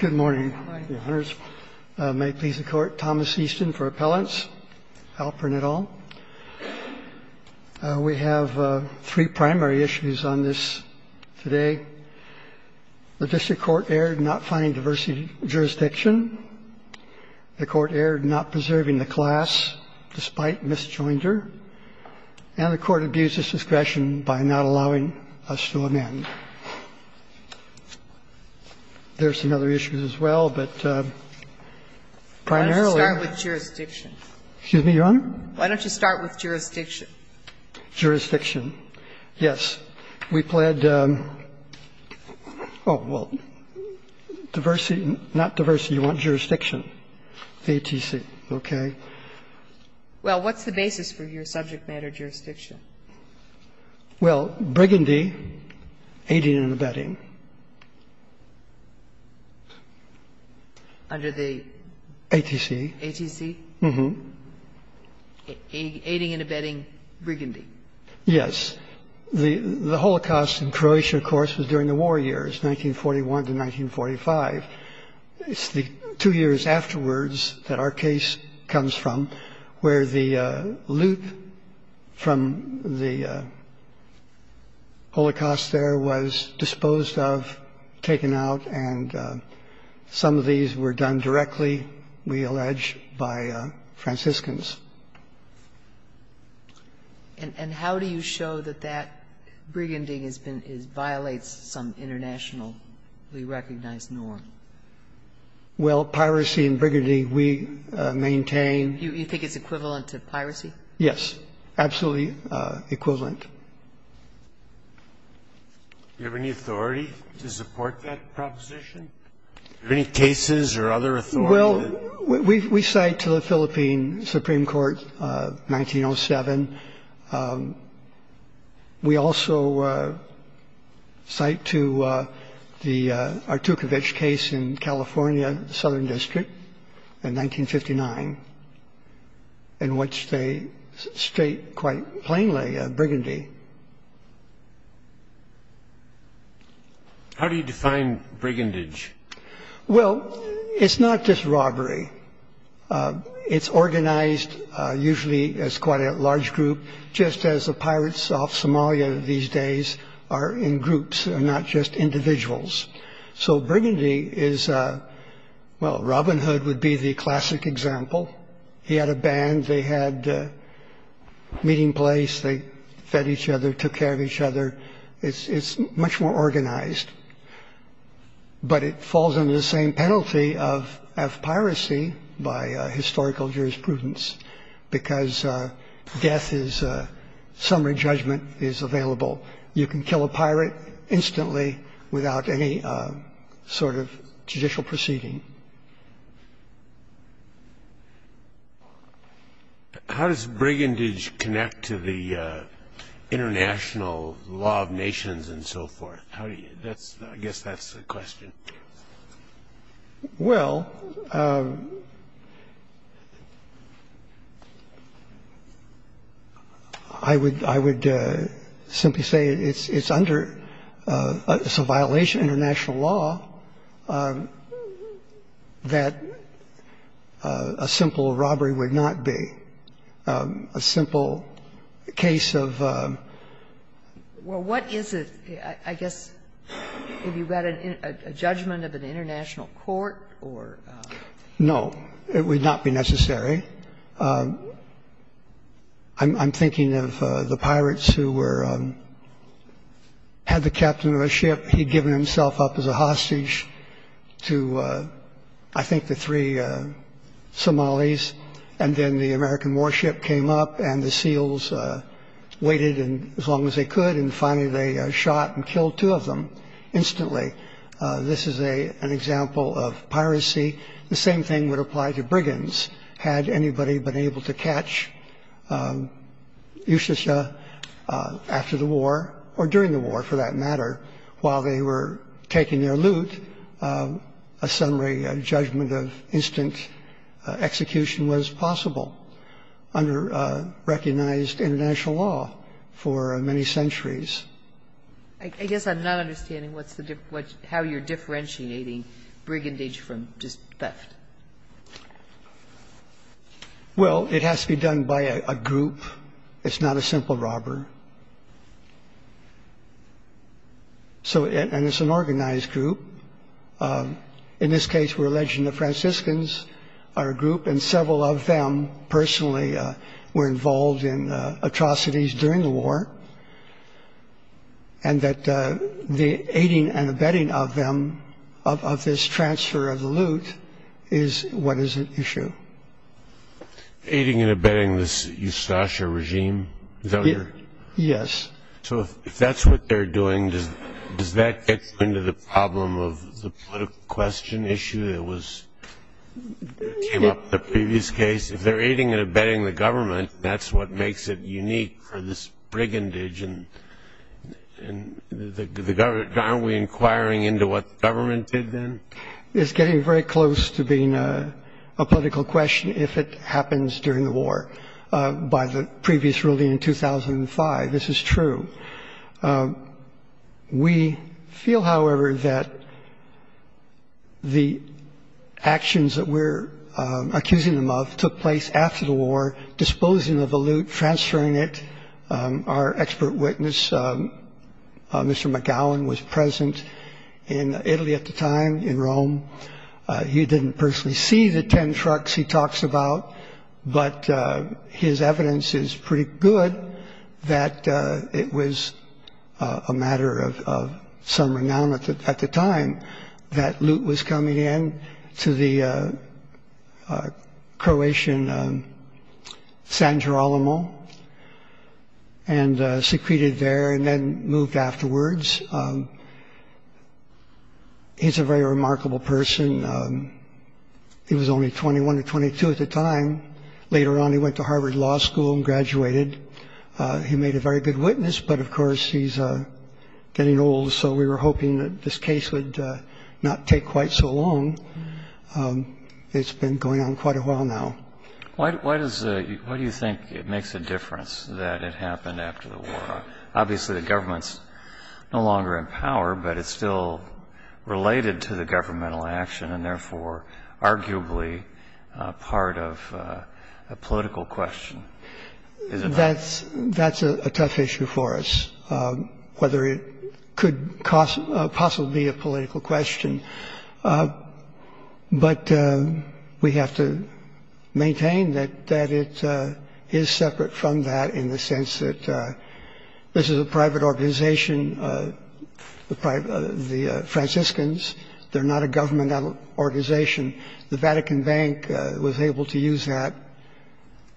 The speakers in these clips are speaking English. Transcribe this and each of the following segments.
Good morning. May it please the Court, Thomas Easton for Appellants, Alperin et al. We have three primary issues on this today. The district court erred in not finding diversity in jurisdiction. The court erred in not preserving the class, despite misjoinder. And the court abused its discretion by not allowing us to amend. There are some other issues as well, but primarily why don't you start with jurisdiction? Excuse me, Your Honor? Why don't you start with jurisdiction? Jurisdiction. Yes. We pled oh, well, diversity, not diversity, you want jurisdiction, ATC, okay? Well, what's the basis for your subject matter jurisdiction? Well, brigandee, aiding and abetting. Under the? ATC. ATC? Aiding and abetting brigandee. Yes. The Holocaust in Croatia, of course, was during the war years, 1941 to 1945. It's the two years afterwards that our case comes from where the loot from the Holocaust there was disposed of, taken out, and some of these were done directly, we allege, by Franciscans. And how do you show that that brigandee has been – violates some internationally recognized norm? Well, piracy and brigandee, we maintain. You think it's equivalent to piracy? Yes. Absolutely equivalent. Do you have any authority to support that proposition? Do you have any cases or other authority? Well, we cite to the Philippine Supreme Court, 1907. We also cite to the Artukovic case in California, Southern District, in 1959, in which they state quite plainly brigandee. How do you define brigandage? Well, it's not just robbery. It's organized usually as quite a large group, just as the pirates of Somalia these days are in groups and not just individuals. So brigandee is – well, Robin Hood would be the classic example. He had a band. They had a meeting place. They fed each other, took care of each other. It's much more organized. But it falls under the same penalty of piracy by historical jurisprudence because death is – summary judgment is available. You can kill a pirate instantly without any sort of judicial proceeding. How does brigandage connect to the international law of nations and so forth? How do you – that's – I guess that's the question. Well, I would simply say it's under – it's a violation of international law that a simple robbery would not be. A simple case of – Well, what is it? I guess if you've got a judgment of an international court or – No, it would not be necessary. I'm thinking of the pirates who were – had the captain of a ship. He'd given himself up as a hostage to, I think, the three Somalis and then the American warship came up and the seals waited as long as they could and finally they shot and killed two of them instantly. This is an example of piracy. The same thing would apply to brigands. Had anybody been able to catch Ushasha after the war or during the war, for that matter, while they were taking their loot, a summary, a judgment of instant execution was possible under recognized international law for many centuries. I guess I'm not understanding what's the – how you're differentiating brigandage from just theft. Well, it has to be done by a group. It's not a simple robber. So – and it's an organized group. In this case, we're alleging the Franciscans are a group, and several of them, personally, were involved in atrocities during the war, and that the aiding and abetting of them, of this transfer of the loot, is what is at issue. Aiding and abetting this Ushasha regime? Yes. So if that's what they're doing, does that get you into the problem of the political question issue that came up in the previous case? If they're aiding and abetting the government, that's what makes it unique for this brigandage. And aren't we inquiring into what the government did then? It's getting very close to being a political question if it happens during the war. By the previous ruling in 2005, this is true. We feel, however, that the actions that we're accusing them of took place after the war, disposing of the loot, transferring it. Our expert witness, Mr. McGowan, was present in Italy at the time, in Rome. He didn't personally see the 10 trucks he talks about, but his evidence is pretty good that it was a matter of some renown at the time that loot was coming in to the Croatian San Girolamo, and secreted there, and then moved afterwards. He's a very remarkable person. He was only 21 or 22 at the time. Later on he went to Harvard Law School and graduated. He made a very good witness, but, of course, he's getting old, so we were hoping that this case would not take quite so long. It's been going on quite a while now. Why do you think it makes a difference that it happened after the war? Obviously the government's no longer in power, but it's still related to the governmental action and therefore arguably part of a political question. That's a tough issue for us, whether it could possibly be a political question. But we have to maintain that it is separate from that in the sense that this is a private organization, the Franciscans. They're not a governmental organization. The Vatican Bank was able to use that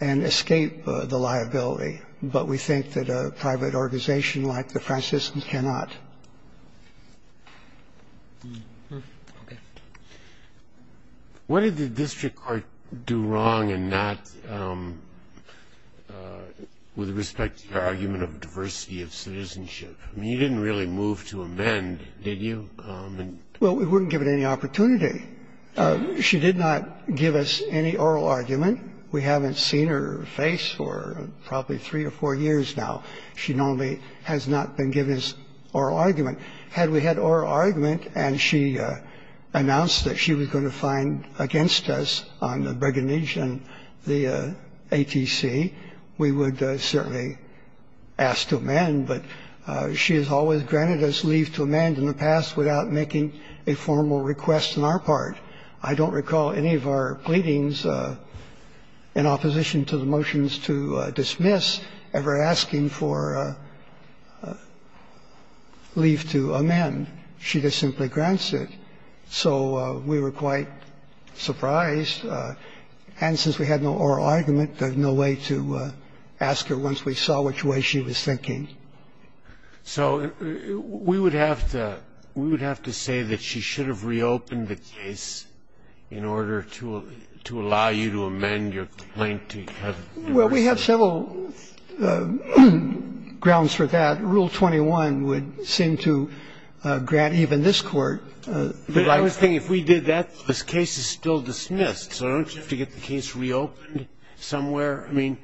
and escape the liability, but we think that a private organization like the Franciscans cannot. Okay. What did the district court do wrong in that, with respect to your argument of diversity of citizenship? I mean, you didn't really move to amend, did you? Well, we wouldn't give it any opportunity. She did not give us any oral argument. We haven't seen her face for probably three or four years now. She normally has not been giving us oral argument. Had we had oral argument and she announced that she was going to find against us on the Bregennage and the ATC, we would certainly ask to amend. But she has always granted us leave to amend in the past without making a formal request on our part. I don't recall any of our pleadings in opposition to the motions to dismiss ever asking for leave to amend. She just simply grants it. So we were quite surprised. And since we had no oral argument, there's no way to ask her once we saw which way she was thinking. So we would have to say that she should have reopened the case in order to allow you to amend your complaint to have diversity. Well, we have several grounds for that. Rule 21 would seem to grant even this Court. But I was thinking, if we did that, this case is still dismissed. So don't you have to get the case reopened somewhere? I mean,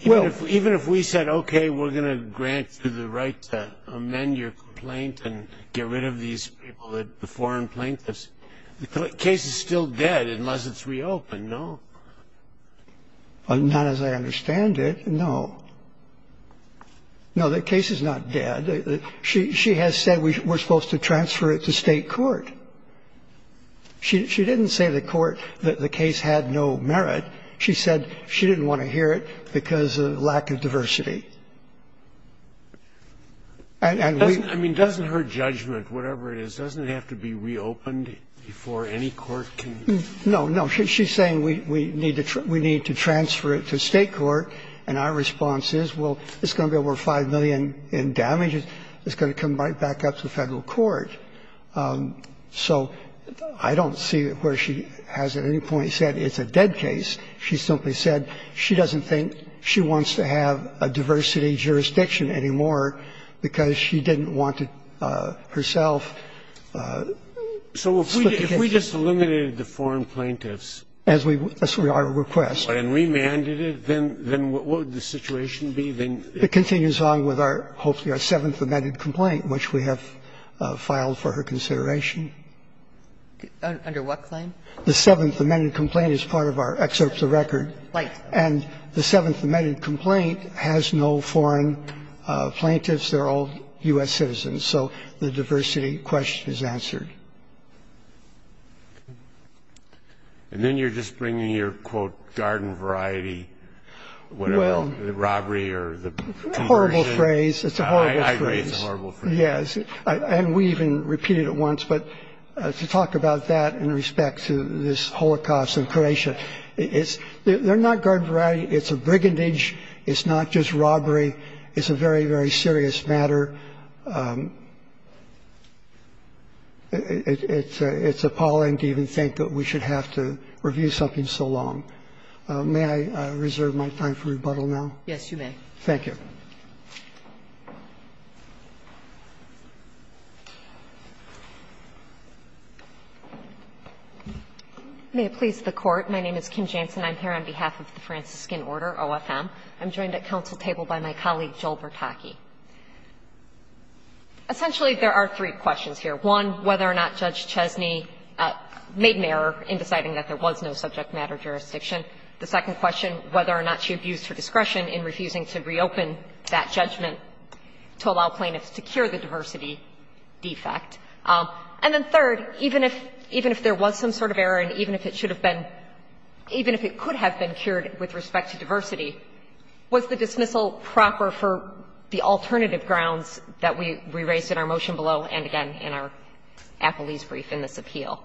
even if we said, okay, we're going to grant you the right to amend your complaint and get rid of these people, the foreign plaintiffs, the case is still dead unless it's reopened, no? Not as I understand it, no. No, the case is not dead. She has said we're supposed to transfer it to State court. She didn't say to the court that the case had no merit. She said she didn't want to hear it because of lack of diversity. And we don't. I mean, doesn't her judgment, whatever it is, doesn't it have to be reopened before any court can? No, no. She's saying we need to transfer it to State court. And our response is, well, it's going to be over 5 million in damages. It's going to come right back up to the Federal court. So I don't see where she has at any point said it's a dead case. She simply said she doesn't think she wants to have a diversity jurisdiction She just eliminated the foreign plaintiffs. That's our request. And remanded it. Then what would the situation be? It continues on with our, hopefully, our Seventh Amendment complaint, which we have filed for her consideration. Under what claim? The Seventh Amendment complaint is part of our excerpt to record. Right. And the Seventh Amendment complaint has no foreign plaintiffs. They're all U.S. citizens. So the diversity question is answered. And then you're just bringing your, quote, garden variety, whatever the robbery or the Horrible phrase. It's a horrible phrase. I agree it's a horrible phrase. Yes. And we even repeated it once. But to talk about that in respect to this Holocaust in Croatia, they're not garden variety. It's a brigandage. It's not just robbery. It's a very, very serious matter. It's appalling to even think that we should have to review something so long. May I reserve my time for rebuttal now? Yes, you may. Thank you. May it please the Court. My name is Kim Jansen. I'm here on behalf of the Franciscan Order, OFM. I'm joined at council table by my colleague, Joel Bertocchi. Essentially, there are three questions here. One, whether or not Judge Chesney made an error in deciding that there was no subject matter jurisdiction. The second question, whether or not she abused her discretion in refusing to reopen that judgment to allow plaintiffs to cure the diversity defect. And then third, even if there was some sort of error and even if it should have been even if it could have been cured with respect to diversity, was the dismissal proper for the alternative grounds that we raised in our motion below and again in our appellee's brief in this appeal.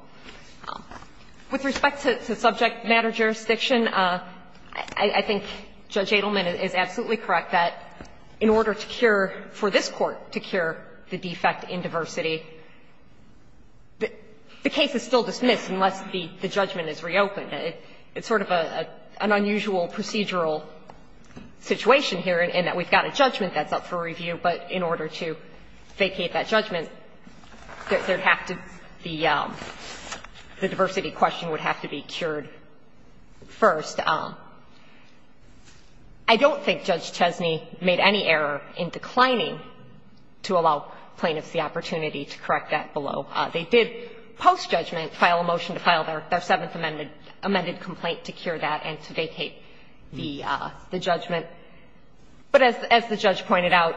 With respect to subject matter jurisdiction, I think Judge Adelman is absolutely correct that in order to cure, for this Court to cure the defect in diversity, the case is still dismissed unless the judgment is reopened. It's sort of an unusual procedural situation here in that we've got a judgment that's up for review, but in order to vacate that judgment, there would have to be the diversity question would have to be cured first. I don't think Judge Chesney made any error in declining to allow plaintiffs the opportunity to correct that below. They did, post-judgment, file a motion to file their Seventh Amendment amended complaint to cure that and to vacate the judgment. But as the judge pointed out,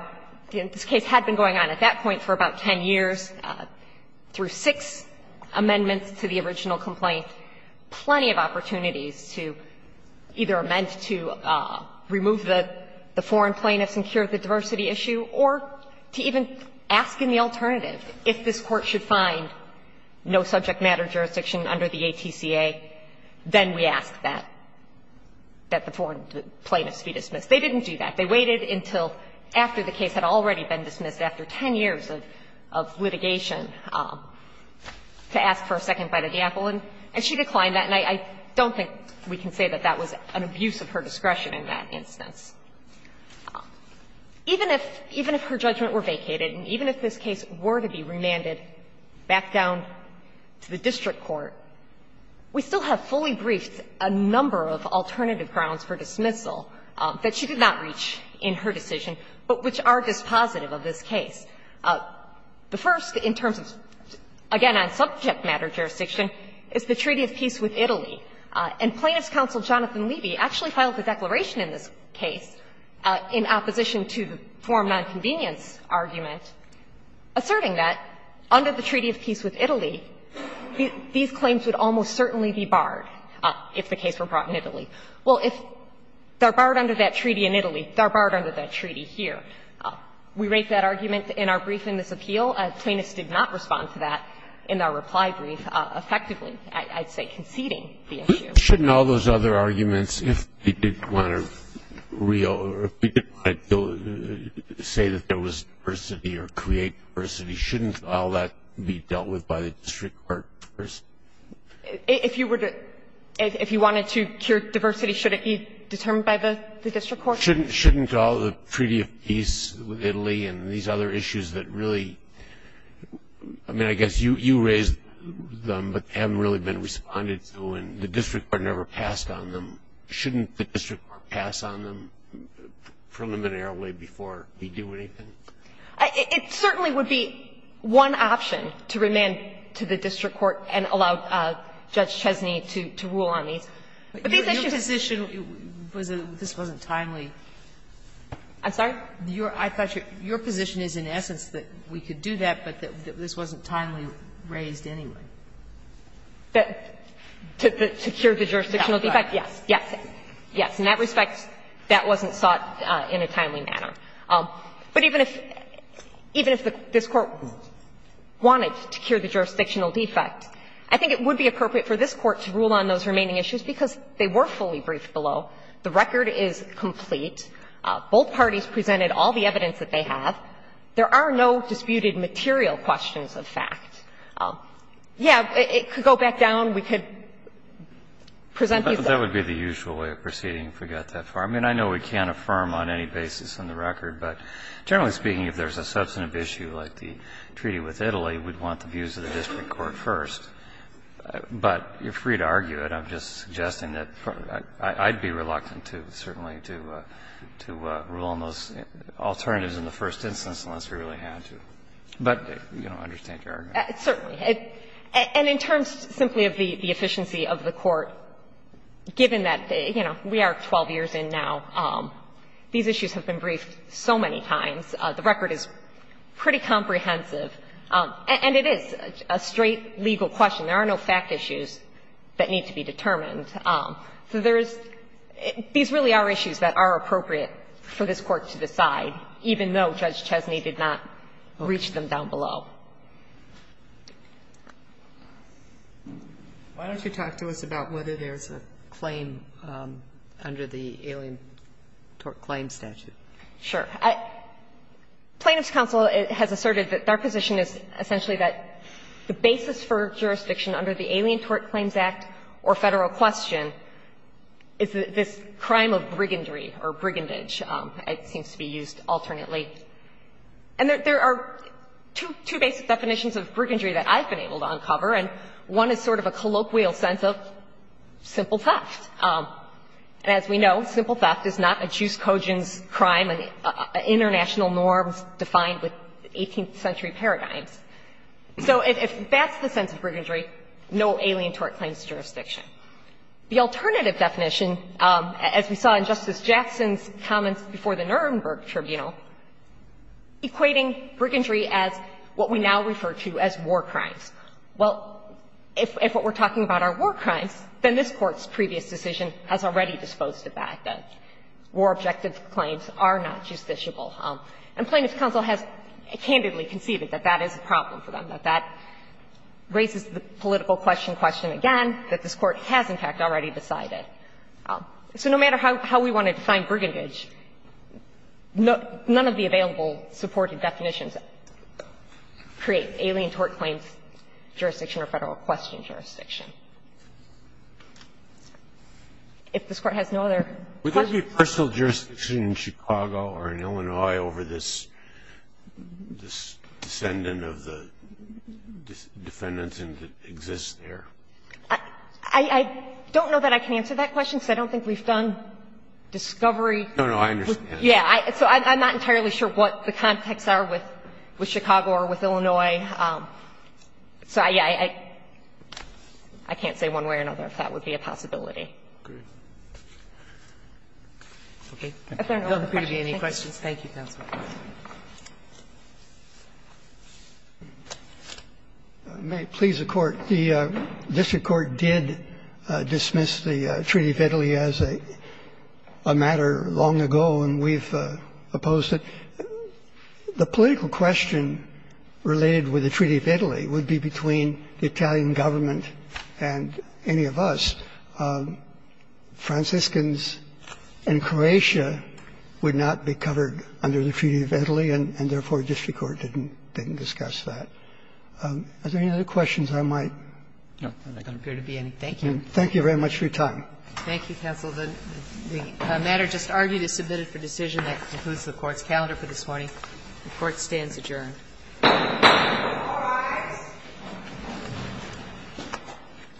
this case had been going on at that point for about 10 years through six amendments to the original complaint, plenty of opportunities to either amend to remove the foreign plaintiffs and cure the diversity issue or to even ask in the alternative if this Court should find no subject matter jurisdiction under the ATCA, then we ask that, that the foreign plaintiffs be dismissed. They didn't do that. They waited until after the case had already been dismissed, after 10 years of litigation, to ask for a second bite of the apple, and she declined that. And I don't think we can say that that was an abuse of her discretion in that instance. Even if her judgment were vacated and even if this case were to be remanded back down to the district court, we still have fully briefed a number of alternative grounds for dismissal that she did not reach in her decision, but which are dispositive of this case. The first, in terms of, again, on subject matter jurisdiction, is the Treaty of Peace with Italy. And Plaintiff's counsel, Jonathan Levy, actually filed a declaration in this case in opposition to the forum nonconvenience argument, asserting that under the Treaty of Peace with Italy, these claims would almost certainly be barred if the case were brought in Italy. Well, if they're barred under that treaty in Italy, they're barred under that treaty here. We rate that argument in our brief in this appeal. Plaintiffs did not respond to that in our reply brief effectively, I'd say conceding the issue. Shouldn't all those other arguments, if they didn't want to say that there was diversity or create diversity, shouldn't all that be dealt with by the district court first? If you wanted to cure diversity, shouldn't it be determined by the district court? Shouldn't all the Treaty of Peace with Italy and these other issues that really I mean, I guess you raised them, but haven't really been responded to, and the district court never passed on them. Shouldn't the district court pass on them preliminarily before we do anything? It certainly would be one option to remand to the district court and allow Judge Chesney to rule on these. But these issues are important. But your position was that this wasn't timely. I'm sorry? I thought your position is in essence that we could do that, but that this wasn't timely raised anyway. To cure the jurisdictional defect, yes, yes, yes. In that respect, that wasn't sought in a timely manner. But even if this Court wanted to cure the jurisdictional defect, I think it would be appropriate for this Court to rule on those remaining issues, because they were fully briefed below. The record is complete. Both parties presented all the evidence that they have. There are no disputed material questions of fact. Yes, it could go back down. We could present these. That would be the usual way of proceeding if we got that far. I mean, I know we can't affirm on any basis on the record, but generally speaking, if there's a substantive issue like the treaty with Italy, we'd want the views of the district court first. But you're free to argue it. I'm just suggesting that I'd be reluctant to, certainly, to rule on those alternatives in the first instance unless we really had to. But you don't understand your argument. Certainly. And in terms simply of the efficiency of the Court, given that, you know, we are 12 years in now, these issues have been briefed so many times, the record is pretty comprehensive, and it is a straight legal question. There are no fact issues that need to be determined. So there is – these really are issues that are appropriate for this Court to decide, even though Judge Chesney did not reach them down below. Why don't you talk to us about whether there's a claim under the Alien Tort Claim statute? Sure. Plaintiffs' counsel has asserted that their position is essentially that the basis for jurisdiction under the Alien Tort Claims Act or Federal Question is this crime of brigandry or brigandage. It seems to be used alternately. And there are two basic definitions of brigandry that I've been able to uncover, and one is sort of a colloquial sense of simple theft. As we know, simple theft is not a Juice Cogin's crime, an international norm defined with 18th century paradigms. So if that's the sense of brigandry, no Alien Tort Claims jurisdiction. The alternative definition, as we saw in Justice Jackson's comments before the Nuremberg Tribunal, equating brigandry as what we now refer to as war crimes. Well, if what we're talking about are war crimes, then this Court's previous decision has already disposed of that, that war-objective claims are not justiciable. And Plaintiff's counsel has candidly conceded that that is a problem for them, that that raises the political question, question again, that this Court has, in fact, already decided. So no matter how we want to define brigandage, none of the available supported definitions create Alien Tort Claims jurisdiction or Federal Question jurisdiction. If this Court has no other questions. I don't know that I can answer that question because I don't think we've done discovery. No, no, I understand. Yeah, so I'm not entirely sure what the context are with Chicago or with Illinois. So I can't say one way or another if that would be a possibility. Thank you. Thank you. Thank you. Thank you. Thank you. Thank you. Thank you. Thank you. Okay. If there are no other questions. Thank you. Thank you, Counsel. May it please the Court. The district court did dismiss the Treaty of Italy as a matter long ago, and we've opposed it. The political question related with the Treaty of Italy would be between the Italian government and any of us. Franciscans in Croatia would not be covered under the Treaty of Italy, and therefore district court didn't discuss that. Are there any other questions I might? No. There don't appear to be any. Thank you. Thank you very much for your time. Thank you, Counsel. The matter just argued is submitted for decision. That concludes the Court's calendar for this morning. The Court stands adjourned. All rise.